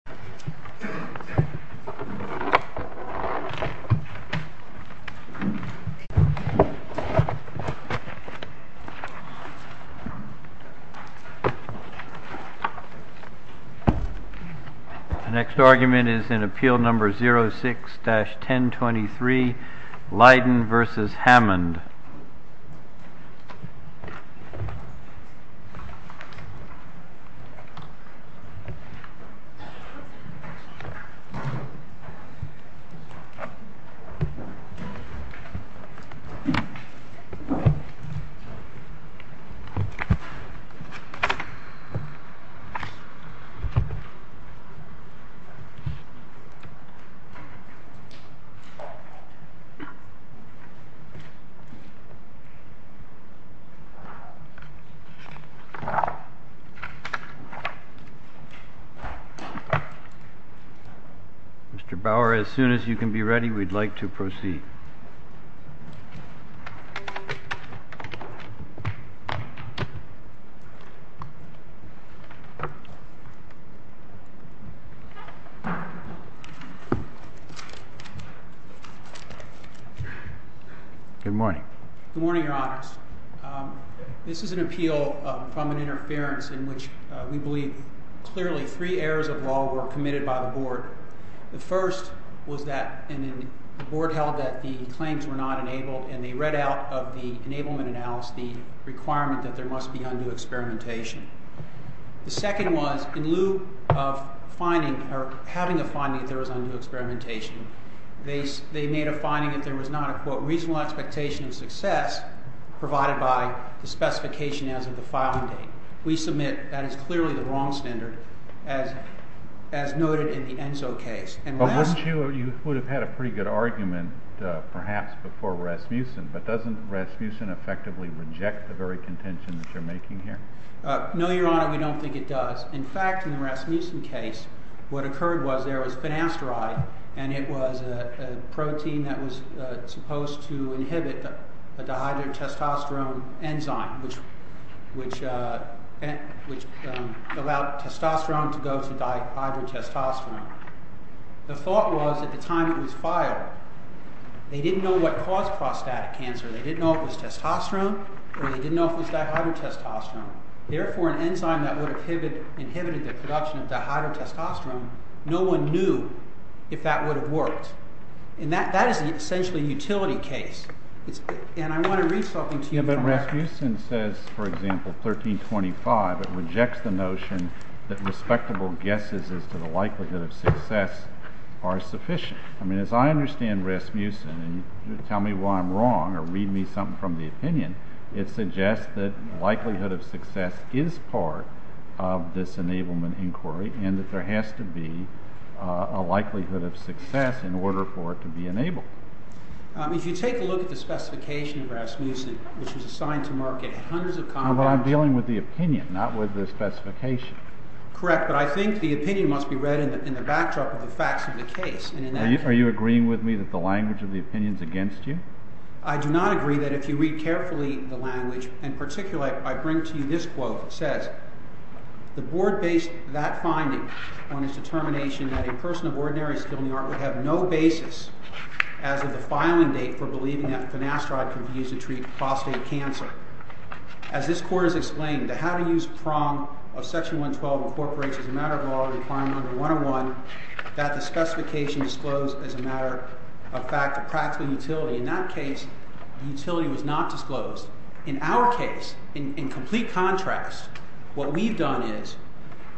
The board of trustees will now close the hearing. Mr. Bauer, as soon as you can be ready, we'd like to proceed. Good morning. Good morning, your honors. This is an appeal from an interference in which we believe clearly three errors of law were committed by the board. The first was that the board held that the claims were not enabled and they read out of the enablement analysis the requirement that there must be undue experimentation. The second was, in lieu of having a finding that there was undue experimentation, they made a finding that there was not a, quote, reasonable expectation of success provided by the specification as of the filing date. We submit that is clearly the wrong standard as noted in the ENSO case. You would have had a pretty good argument, perhaps, before Rasmussen, but doesn't Rasmussen effectively reject the very contention that you're making here? No, your honor, we don't think it does. In fact, in the Rasmussen case, what occurred was there was finasteride and it was a protein that was supposed to inhibit a dihydrotestosterone enzyme, which allowed testosterone to go to dihydrotestosterone. The thought was, at the time it was filed, they didn't know what caused prostatic cancer. They didn't know if it was testosterone or they didn't know if it was dihydrotestosterone. Therefore, an enzyme that would have inhibited the production of dihydrotestosterone, no one knew if that would have worked. And that is essentially a utility case. And I want to read something to you from there. But Rasmussen says, for example, 1325, it rejects the notion that respectable guesses as to the likelihood of success are sufficient. I mean, as I understand Rasmussen, and you tell me why I'm wrong or read me something from the opinion, it suggests that likelihood of success is part of this enablement inquiry and that there has to be a likelihood of success in order for it to be enabled. If you take a look at the specification of Rasmussen, which was assigned to Marquette, hundreds of… No, but I'm dealing with the opinion, not with the specification. Correct, but I think the opinion must be read in the backdrop of the facts of the case. Are you agreeing with me that the language of the opinion is against you? I do not agree that if you read carefully the language, and particularly I bring to you this quote. It says, the board based that finding on its determination that a person of ordinary skill in the art would have no basis as of the filing date for believing that finasteride could be used to treat prostate cancer. As this court has explained, the how to use prong of section 112 incorporates as a matter of law the requirement under 101 that the specification disclosed as a matter of fact of practical utility. In that case, the utility was not disclosed. In our case, in complete contrast, what we've done is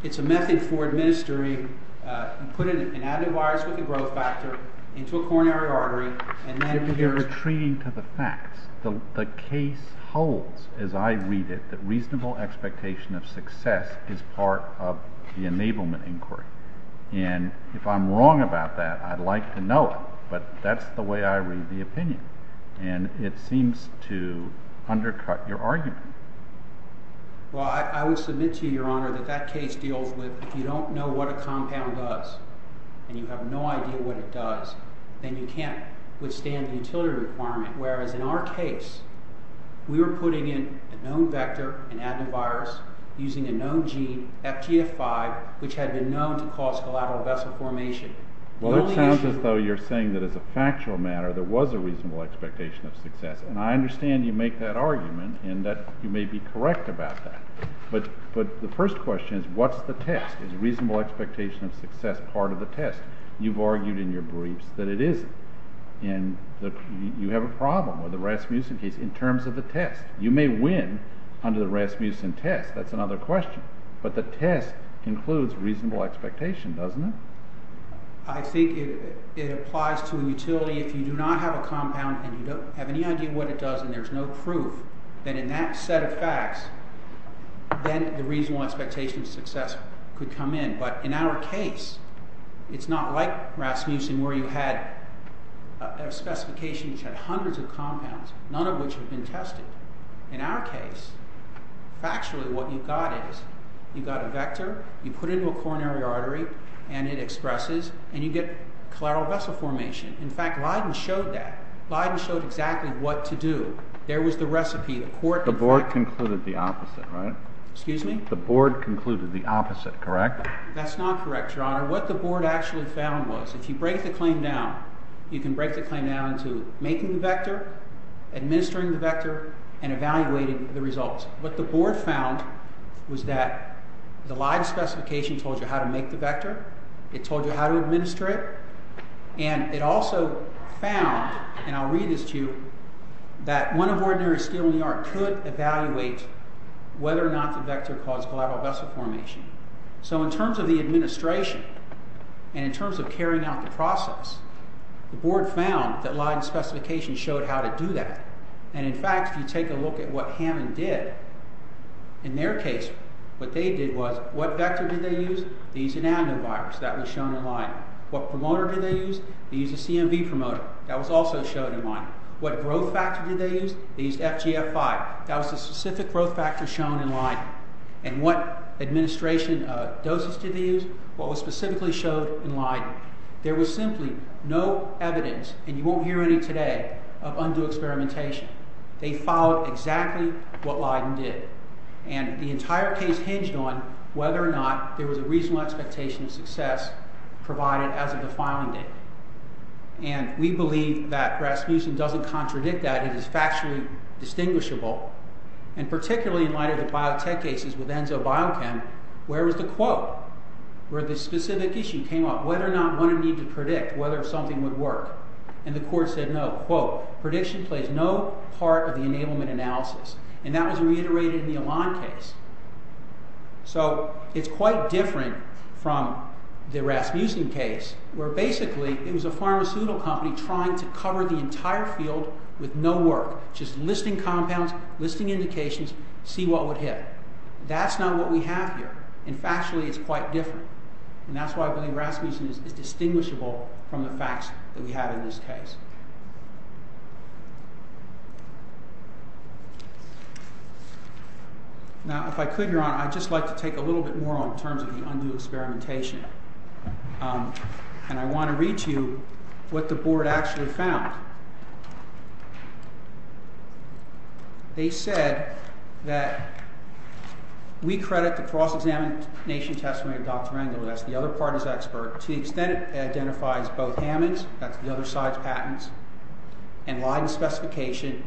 it's a method for administering and putting an added virus with a growth factor into a coronary artery and then… Retreating to the facts, the case holds, as I read it, that reasonable expectation of success is part of the enablement inquiry. And if I'm wrong about that, I'd like to know it, but that's the way I read the opinion. And it seems to undercut your argument. Well, I would submit to you, Your Honor, that that case deals with if you don't know what a compound does and you have no idea what it does, then you can't withstand the utility requirement. Whereas in our case, we were putting in a known vector, an added virus, using a known gene, FTF5, which had been known to cause collateral vessel formation. Well, it sounds as though you're saying that as a factual matter there was a reasonable expectation of success. And I understand you make that argument and that you may be correct about that. But the first question is what's the test? Is reasonable expectation of success part of the test? You've argued in your briefs that it isn't. And you have a problem with the Rasmussen case in terms of the test. You may win under the Rasmussen test. That's another question. But the test includes reasonable expectation, doesn't it? I think it applies to a utility. If you do not have a compound and you don't have any idea what it does and there's no proof, then in that set of facts, then the reasonable expectation of success could come in. But in our case, it's not like Rasmussen where you had a specification which had hundreds of compounds, none of which had been tested. In our case, factually what you got is you got a vector, you put it into a coronary artery, and it expresses, and you get collateral vessel formation. In fact, Leiden showed that. Leiden showed exactly what to do. There was the recipe. The board concluded the opposite, right? Excuse me? The board concluded the opposite, correct? That's not correct, Your Honor. Your Honor, what the board actually found was if you break the claim down, you can break the claim down into making the vector, administering the vector, and evaluating the results. What the board found was that the Leiden specification told you how to make the vector. It told you how to administer it. And it also found, and I'll read this to you, that one of ordinary steel in the art could evaluate whether or not the vector caused collateral vessel formation. So in terms of the administration and in terms of carrying out the process, the board found that Leiden specification showed how to do that. And in fact, if you take a look at what Hammond did, in their case what they did was what vector did they use? They used an adenovirus. That was shown in Leiden. What promoter did they use? They used a CMV promoter. That was also shown in Leiden. What growth factor did they use? They used FGF5. That was the specific growth factor shown in Leiden. And what administration doses did they use? What was specifically shown in Leiden? There was simply no evidence, and you won't hear any today, of undue experimentation. They followed exactly what Leiden did. And the entire case hinged on whether or not there was a reasonable expectation of success provided as of the filing date. And we believe that Rasmussen doesn't contradict that. It is factually distinguishable. And particularly in light of the biotech cases with Enzo Biochem, where was the quote? Where the specific issue came up, whether or not one would need to predict whether something would work. And the court said no. Quote, prediction plays no part of the enablement analysis. And that was reiterated in the Elan case. So it's quite different from the Rasmussen case, where basically it was a pharmaceutical company trying to cover the entire field with no work. Just listing compounds, listing indications, see what would hit. That's not what we have here. And factually it's quite different. And that's why I believe Rasmussen is distinguishable from the facts that we have in this case. Now, if I could, Your Honor, I'd just like to take a little bit more on terms of the undue experimentation. And I want to read to you what the board actually found. They said that we credit the cross-examination testimony of Dr. Rangel, that's the other party's expert, to the extent it identifies both Hammond's, that's the other side's patents, and Leiden's specification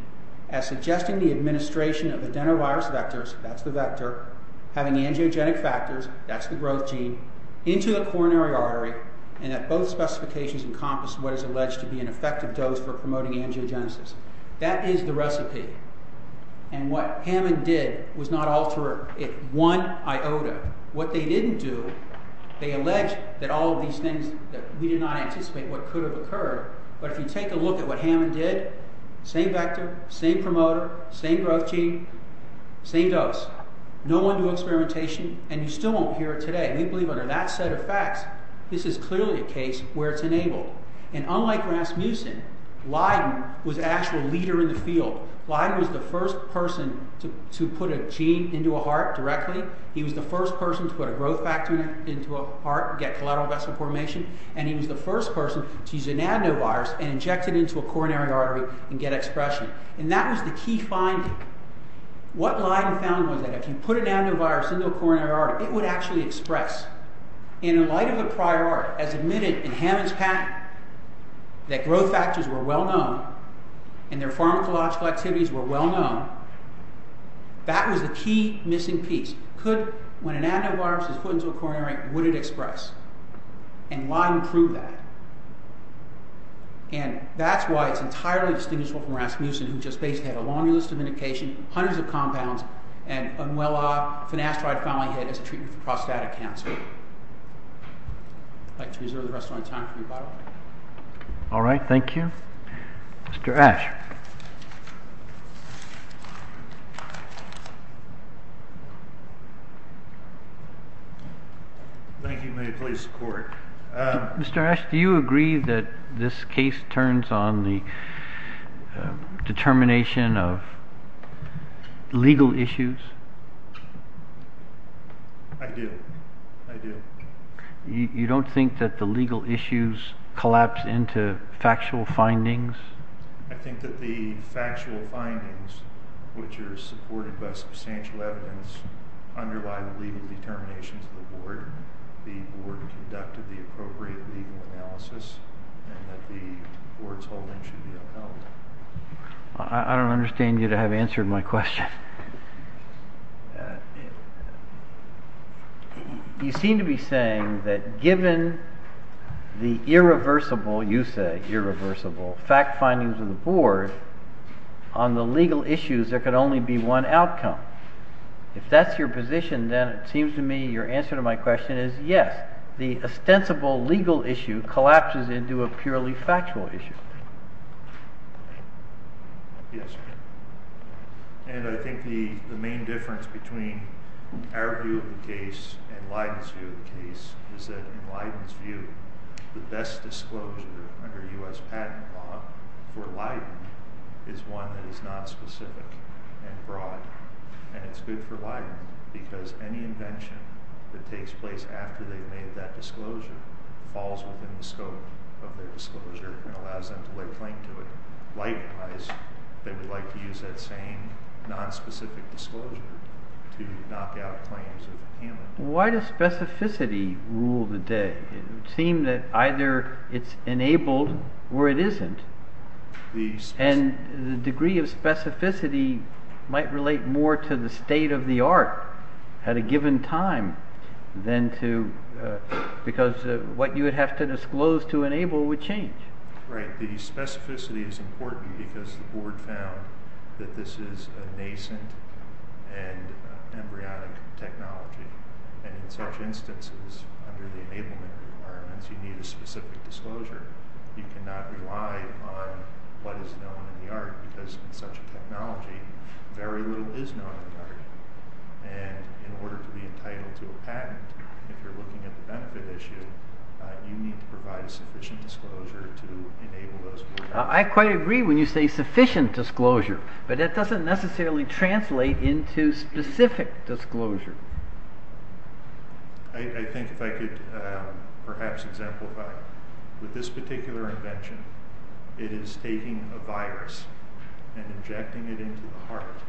as suggesting the administration of adenovirus vectors, that's the vector, having angiogenic factors, that's the growth gene, into the coronary artery, and that both specifications encompass what is alleged to be an effective dose for promoting angiogenesis. That is the recipe. And what Hammond did was not alter it one iota. What they didn't do, they alleged that all of these things, that we did not anticipate what could have occurred, but if you take a look at what Hammond did, same vector, same promoter, same growth gene, same dose. No undue experimentation, and you still won't hear it today. We believe under that set of facts, this is clearly a case where it's enabled. And unlike Rasmussen, Leiden was the actual leader in the field. Leiden was the first person to put a gene into a heart directly, he was the first person to put a growth factor into a heart and get collateral vessel formation, and he was the first person to use an adenovirus and inject it into a coronary artery and get expression. And that was the key finding. What Leiden found was that if you put an adenovirus into a coronary artery, it would actually express. In the light of the prior art, as admitted in Hammond's patent, that growth factors were well known, and their pharmacological activities were well known, that was the key missing piece. Could, when an adenovirus is put into a coronary artery, would it express? And Leiden proved that. And that's why it's entirely distinguishable from Rasmussen, who just basically had a long list of medication, hundreds of compounds, and a well-off finasteride family head as a treatment for prostatic cancer. I'd like to reserve the rest of my time for rebuttal. All right, thank you. Mr. Ashe. Thank you. May it please the Court. Mr. Ashe, do you agree that this case turns on the determination of legal issues? I do. I do. You don't think that the legal issues collapse into factual findings? I think that the factual findings, which are supported by substantial evidence, underlie the legal determinations of the Board. The Board conducted the appropriate legal analysis, and that the Board's holdings should be upheld. I don't understand you to have answered my question. You seem to be saying that given the irreversible, you say irreversible, fact findings of the Board, on the legal issues there could only be one outcome. If that's your position, then it seems to me your answer to my question is yes, the ostensible legal issue collapses into a purely factual issue. Yes. And I think the main difference between our view of the case and Leiden's view of the case is that in Leiden's view, the best disclosure under U.S. patent law for Leiden is one that is non-specific and broad. And it's good for Leiden because any invention that takes place after they've made that disclosure falls within the scope of their disclosure and allows them to lay claim to it. Likewise, they would like to use that same non-specific disclosure to knock out claims of impairment. Why does specificity rule the day? It would seem that either it's enabled or it isn't. And the degree of specificity might relate more to the state of the art at a given time because what you would have to disclose to enable would change. Right. The specificity is important because the Board found that this is a nascent and embryonic technology. And in such instances, under the enablement requirements, you need a specific disclosure. You cannot rely on what is known in the art because in such a technology, very little is known in the art. And in order to be entitled to a patent, if you're looking at the benefit issue, you need to provide sufficient disclosure to enable those. I quite agree when you say sufficient disclosure, but that doesn't necessarily translate into specific disclosure. I think if I could perhaps exemplify. With this particular invention, it is taking a virus and injecting it into the heart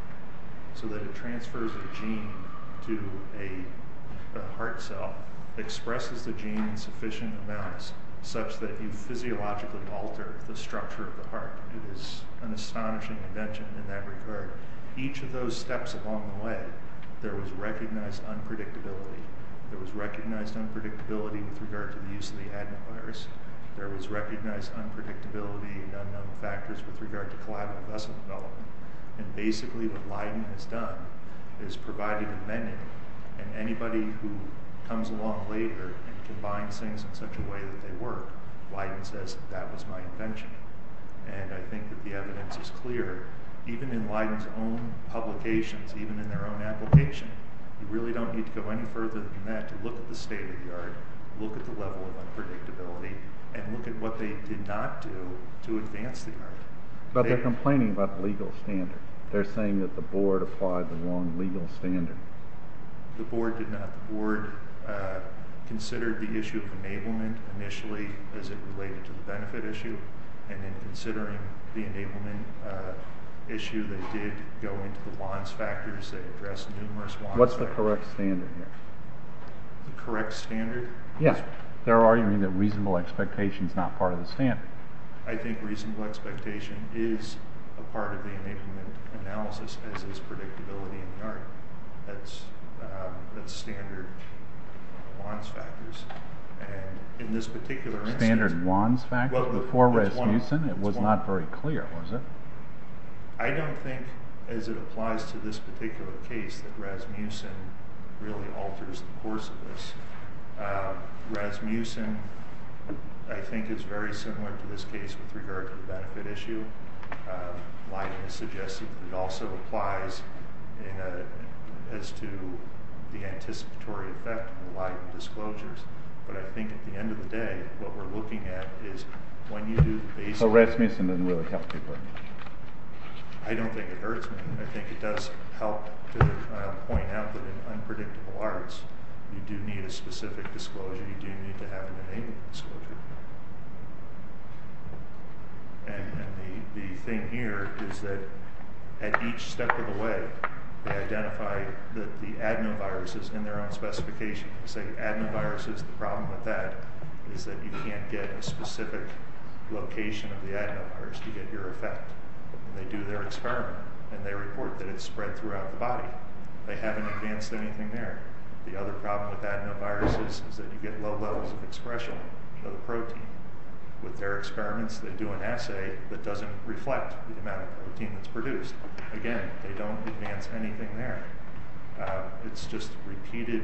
so that it transfers the gene to a heart cell, expresses the gene in sufficient amounts such that you physiologically alter the structure of the heart. It is an astonishing invention in that regard. Each of those steps along the way, there was recognized unpredictability. There was recognized unpredictability with regard to the use of the adenovirus. There was recognized unpredictability and unknown factors with regard to collateral vessel development. And basically what Leiden has done is provided inventing, and anybody who comes along later and combines things in such a way that they work, Leiden says, that was my invention. And I think that the evidence is clear. Even in Leiden's own publications, even in their own application, you really don't need to go any further than that to look at the state of the art, look at the level of unpredictability, and look at what they did not do to advance the art. But they're complaining about the legal standard. They're saying that the board applied the wrong legal standard. The board did not. The board considered the issue of enablement initially as it related to the benefit issue, and in considering the enablement issue, they did go into the WANs factors. They addressed numerous WANs factors. What's the correct standard here? The correct standard? Yes. They're arguing that reasonable expectation is not part of the standard. I think reasonable expectation is a part of the enablement analysis as is predictability in the art. That's standard WANs factors. In this particular instance. Standard WANs factors before Rasmussen? It was not very clear, was it? I don't think, as it applies to this particular case, that Rasmussen really alters the course of this. Rasmussen, I think, is very similar to this case with regard to the benefit issue. Leiden has suggested that it also applies as to the anticipatory effect and Leiden disclosures, but I think at the end of the day, what we're looking at is when you do the basics. So Rasmussen doesn't really help people? I don't think it hurts me. I think it does help to point out that in unpredictable arts, you do need a specific disclosure. You do need to have an enablement disclosure. The thing here is that at each step of the way, they identify the adenoviruses in their own specification. They say adenoviruses, the problem with that is that you can't get a specific location of the adenovirus to get your effect. They do their experiment and they report that it's spread throughout the body. They haven't advanced anything there. The other problem with adenoviruses is that you get low levels of expression of the protein. With their experiments, they do an assay that doesn't reflect the amount of protein that's produced. Again, they don't advance anything there. It's just repeated.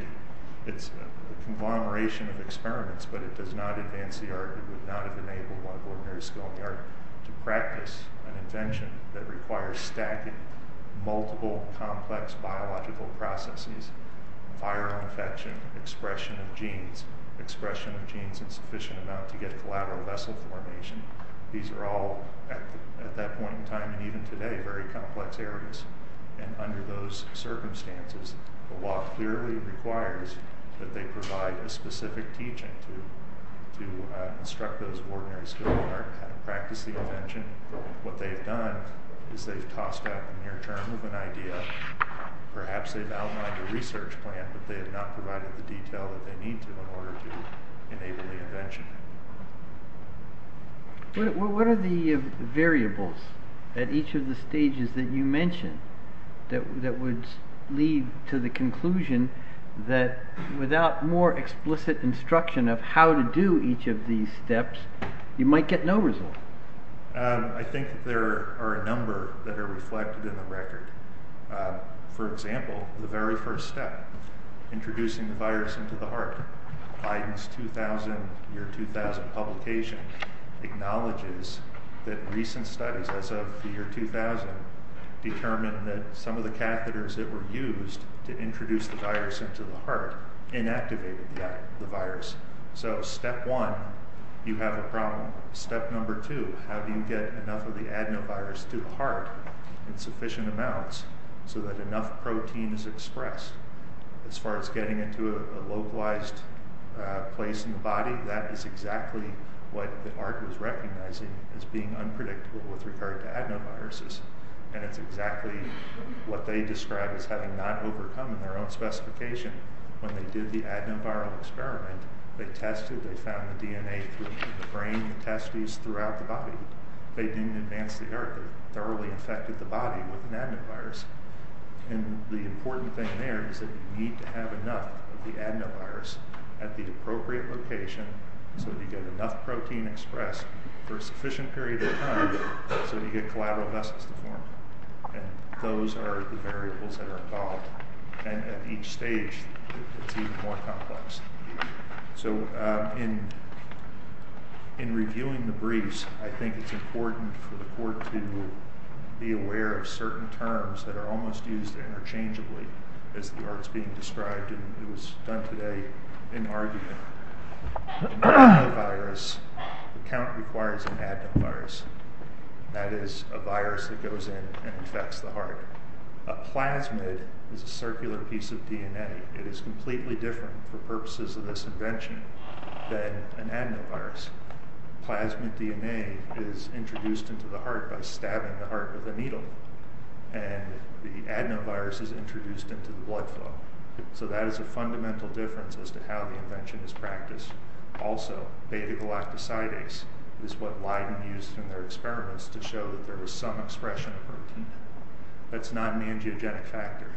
It's a conglomeration of experiments, but it does not advance the art. It would not have enabled one of ordinary scholarly art to practice an invention that requires stacking multiple complex biological processes, viral infection, expression of genes, expression of genes in sufficient amount to get collateral vessel formation. These are all, at that point in time and even today, very complex areas. Under those circumstances, the walk clearly requires that they provide a specific teaching to instruct those ordinary scholarly art how to practice the invention. What they've done is they've tossed out the near term of an idea. Perhaps they've outlined a research plan, but they have not provided the detail that they need to in order to enable the invention. What are the variables at each of the stages that you mentioned that would lead to the conclusion that without more explicit instruction of how to do each of these steps, you might get no result? I think there are a number that are reflected in the record. For example, the very first step, introducing the virus into the heart. Biden's year 2000 publication acknowledges that recent studies as of the year 2000 determined that some of the catheters that were used to introduce the virus into the heart inactivated the virus. Step one, you have a problem. Step number two, how do you get enough of the adenovirus to the heart in sufficient amounts so that enough protein is expressed? As far as getting into a localized place in the body, that is exactly what the art was recognizing as being unpredictable with regard to adenoviruses. It's exactly what they described as having not overcome in their own specification. When they did the adenoviral experiment, they tested, they found the DNA through the brain and the testes throughout the body. They didn't advance the art. They thoroughly infected the body with an adenovirus. The important thing there is that you need to have enough of the adenovirus at the appropriate location so that you get enough protein expressed for a sufficient period of time so that you get collateral vessels to form. Those are the variables that are involved. At each stage, it's even more complex. In reviewing the briefs, I think it's important for the court to be aware of certain terms that are almost used interchangeably as the art is being described. It was done today in argument. An adenovirus, the count requires an adenovirus. That is a virus that goes in and infects the heart. A plasmid is a circular piece of DNA. It is completely different for purposes of this invention than an adenovirus. Plasmid DNA is introduced into the heart by stabbing the heart with a needle. The adenovirus is introduced into the blood flow. That is a fundamental difference as to how the invention is practiced. Also, beta-galactosidase is what Leiden used in their experiments to show that there was some expression of protein. That's not an angiogenic factor.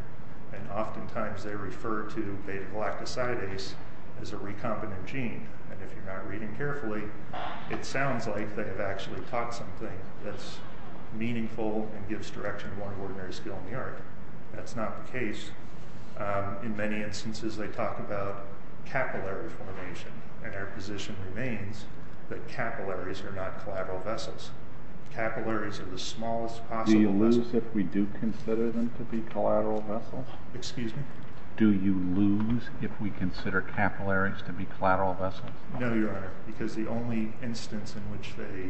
Oftentimes, they refer to beta-galactosidase as a recombinant gene. If you're not reading carefully, it sounds like they have actually taught something that's meaningful and gives direction to more ordinary skill in the art. That's not the case. In many instances, they talk about capillary formation. Our position remains that capillaries are not collateral vessels. Capillaries are the smallest possible vessels. Do you lose if we do consider them to be collateral vessels? Excuse me? Do you lose if we consider capillaries to be collateral vessels? No, Your Honor, because the only instance in which they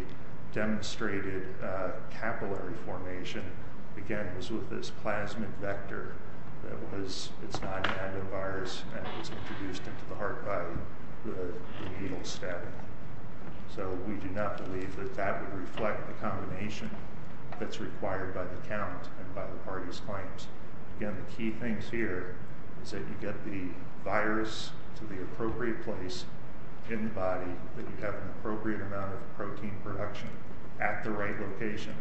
demonstrated capillary formation, again, was with this plasmid vector that was its non-adenovirus and it was introduced into the heart by the needle stabbing. We do not believe that that would reflect the combination that's required by the count and by the parties' claims. Again, the key things here is that you get the virus to the appropriate place in the body, that you have an appropriate amount of protein production at the right location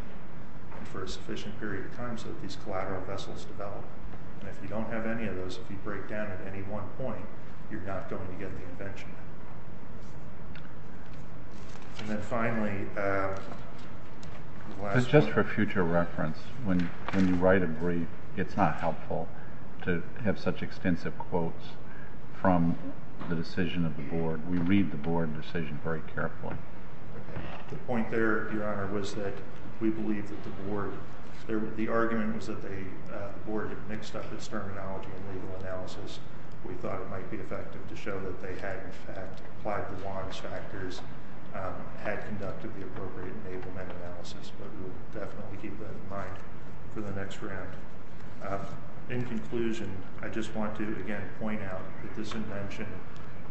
for a sufficient period of time so that these collateral vessels develop. If you don't have any of those, if you break down at any one point, you're not going to get the invention. And then finally, the last one. Just for future reference, when you write a brief, it's not helpful to have such extensive quotes from the decision of the board. We read the board decision very carefully. The point there, Your Honor, was that we believe that the board, the argument was that the board had mixed up its terminology in legal analysis. We thought it might be effective to show that they had, in fact, applied the WANs factors, had conducted the appropriate enablement analysis, but we'll definitely keep that in mind for the next round. In conclusion, I just want to, again, point out that this invention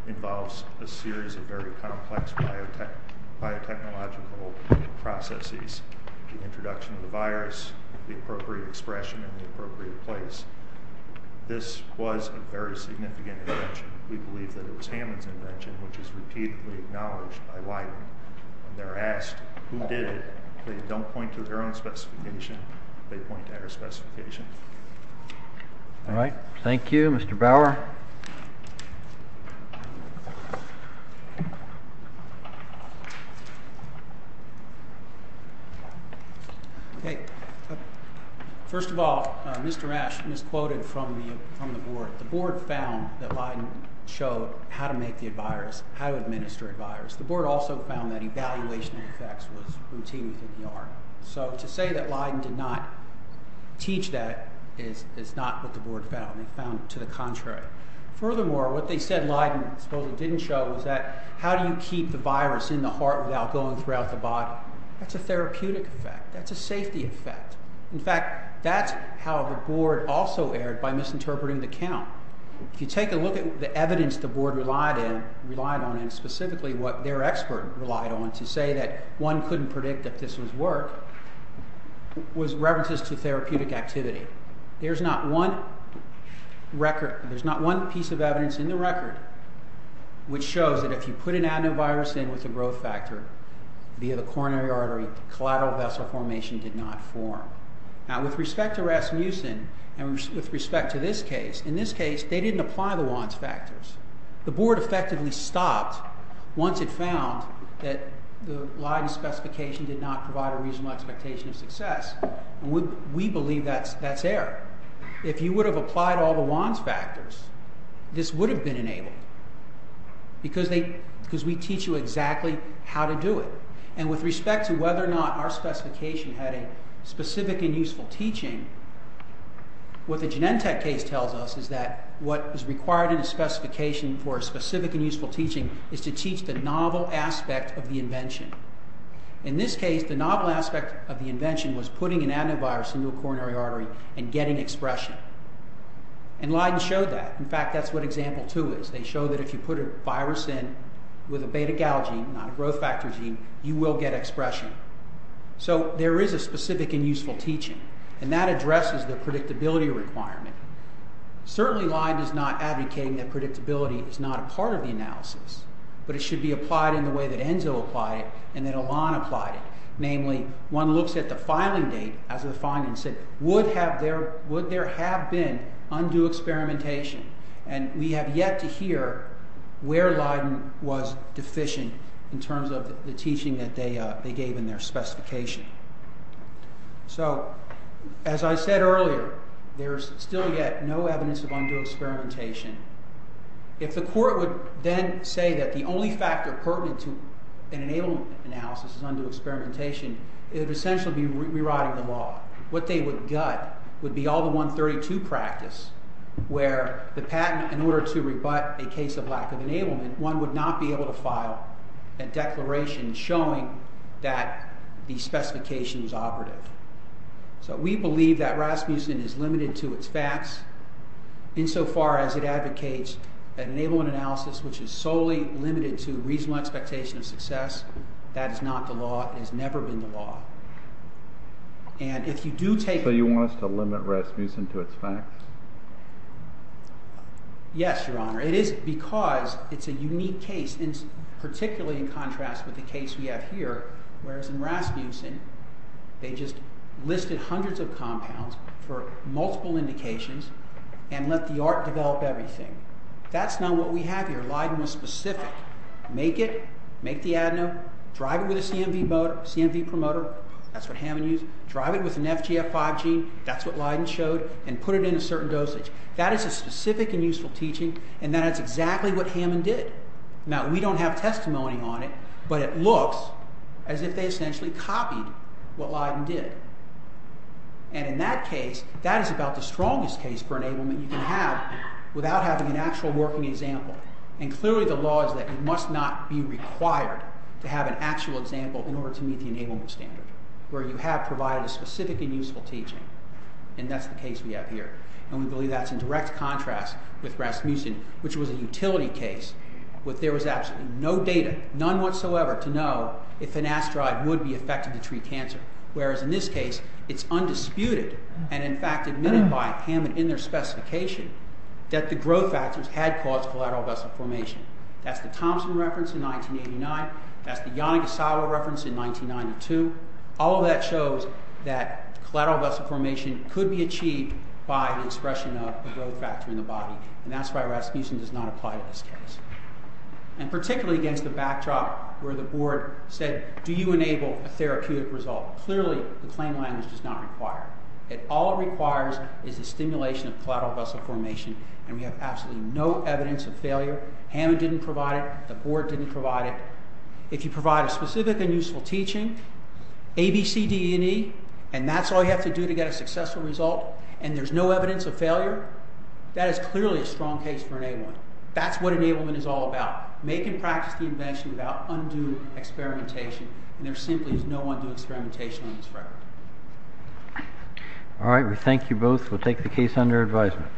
involves a series of very complex biotechnological processes. The introduction of the virus, the appropriate expression in the appropriate place. This was a very significant invention. We believe that it was Hammond's invention, which is repeatedly acknowledged by Leiden. When they're asked who did it, they don't point to their own specification. They point to our specification. All right. Thank you, Mr. Bauer. Okay. First of all, Mr. Ashton is quoted from the board. The board found that Leiden showed how to make the virus, how to administer a virus. The board also found that evaluation of effects was routine within the arm. So to say that Leiden did not teach that is not what the board found. They found it to the contrary. Furthermore, what they said Leiden supposedly didn't show was that how do you keep the virus in the heart without going throughout the body? That's a therapeutic effect. That's a safety effect. In fact, that's how the board also erred by misinterpreting the count. If you take a look at the evidence the board relied on, and specifically what their expert relied on to say that one couldn't predict that this was work, was references to therapeutic activity. There's not one piece of evidence in the record which shows that if you put an adenovirus in with a growth factor via the coronary artery, collateral vessel formation did not form. Now with respect to Rasmussen and with respect to this case, in this case they didn't apply the Wands factors. The board effectively stopped once it found that the Leiden specification did not provide a reasonable expectation of success. We believe that's error. If you would have applied all the Wands factors, this would have been enabled because we teach you exactly how to do it. With respect to whether or not our specification had a specific and useful teaching, what the Genentech case tells us is that what is required in a specification for a specific and useful teaching is to teach the novel aspect of the invention. In this case, the novel aspect of the invention was putting an adenovirus into a coronary artery and getting expression. Leiden showed that. In fact, that's what example two is. They show that if you put a virus in with a beta-gal gene, not a growth factor gene, you will get expression. So there is a specific and useful teaching, and that addresses the predictability requirement. Certainly Leiden is not advocating that predictability is not a part of the analysis, but it should be applied in the way that Enzo applied it and that Elan applied it. Namely, one looks at the filing date as the findings said. Would there have been undue experimentation? And we have yet to hear where Leiden was deficient in terms of the teaching that they gave in their specification. So, as I said earlier, there is still yet no evidence of undue experimentation. If the court would then say that the only factor pertinent to an enablement analysis is undue experimentation, it would essentially be rewriting the law. What they would gut would be all the 132 practice where the patent, in order to rebut a case of lack of enablement, one would not be able to file a declaration showing that the specification was operative. So we believe that Rasmussen is limited to its facts insofar as it advocates an enablement analysis which is solely limited to reasonable expectation of success. That is not the law. It has never been the law. And if you do take... So you want us to limit Rasmussen to its facts? Yes, Your Honor. It is because it's a unique case, particularly in contrast with the case we have here, whereas in Rasmussen they just listed hundreds of compounds for multiple indications and let the art develop everything. That's not what we have here. Leiden was specific. Make it, make the adeno, drive it with a CMV promoter, that's what Hammond used, drive it with an FGF5 gene, that's what Leiden showed, and put it in a certain dosage. That is a specific and useful teaching, and that is exactly what Hammond did. Now, we don't have testimony on it, but it looks as if they essentially copied what Leiden did. And in that case, that is about the strongest case for enablement you can have without having an actual working example. And clearly the law is that you must not be required to have an actual example in order to meet the enablement standard, where you have provided a specific and useful teaching, and that's the case we have here. And we believe that's in direct contrast with Rasmussen, which was a utility case where there was absolutely no data, none whatsoever, to know if an asteroid would be effective to treat cancer, whereas in this case it's undisputed, and in fact admitted by Hammond in their specification, that the growth factors had caused collateral vessel formation. That's the Thompson reference in 1989, that's the Yanagisawa reference in 1992. All of that shows that collateral vessel formation could be achieved by the expression of a growth factor in the body, and that's why Rasmussen does not apply to this case. And particularly against the backdrop where the board said, do you enable a therapeutic result? Clearly the claim language does not require it. All it requires is the stimulation of collateral vessel formation, and we have absolutely no evidence of failure. Hammond didn't provide it, the board didn't provide it. If you provide a specific and useful teaching, ABCDE, and that's all you have to do to get a successful result, and there's no evidence of failure, that is clearly a strong case for enablement. That's what enablement is all about. Make and practice the invention without undue experimentation, and there simply is no undue experimentation on this record. All right, we thank you both. We'll take the case under advisement.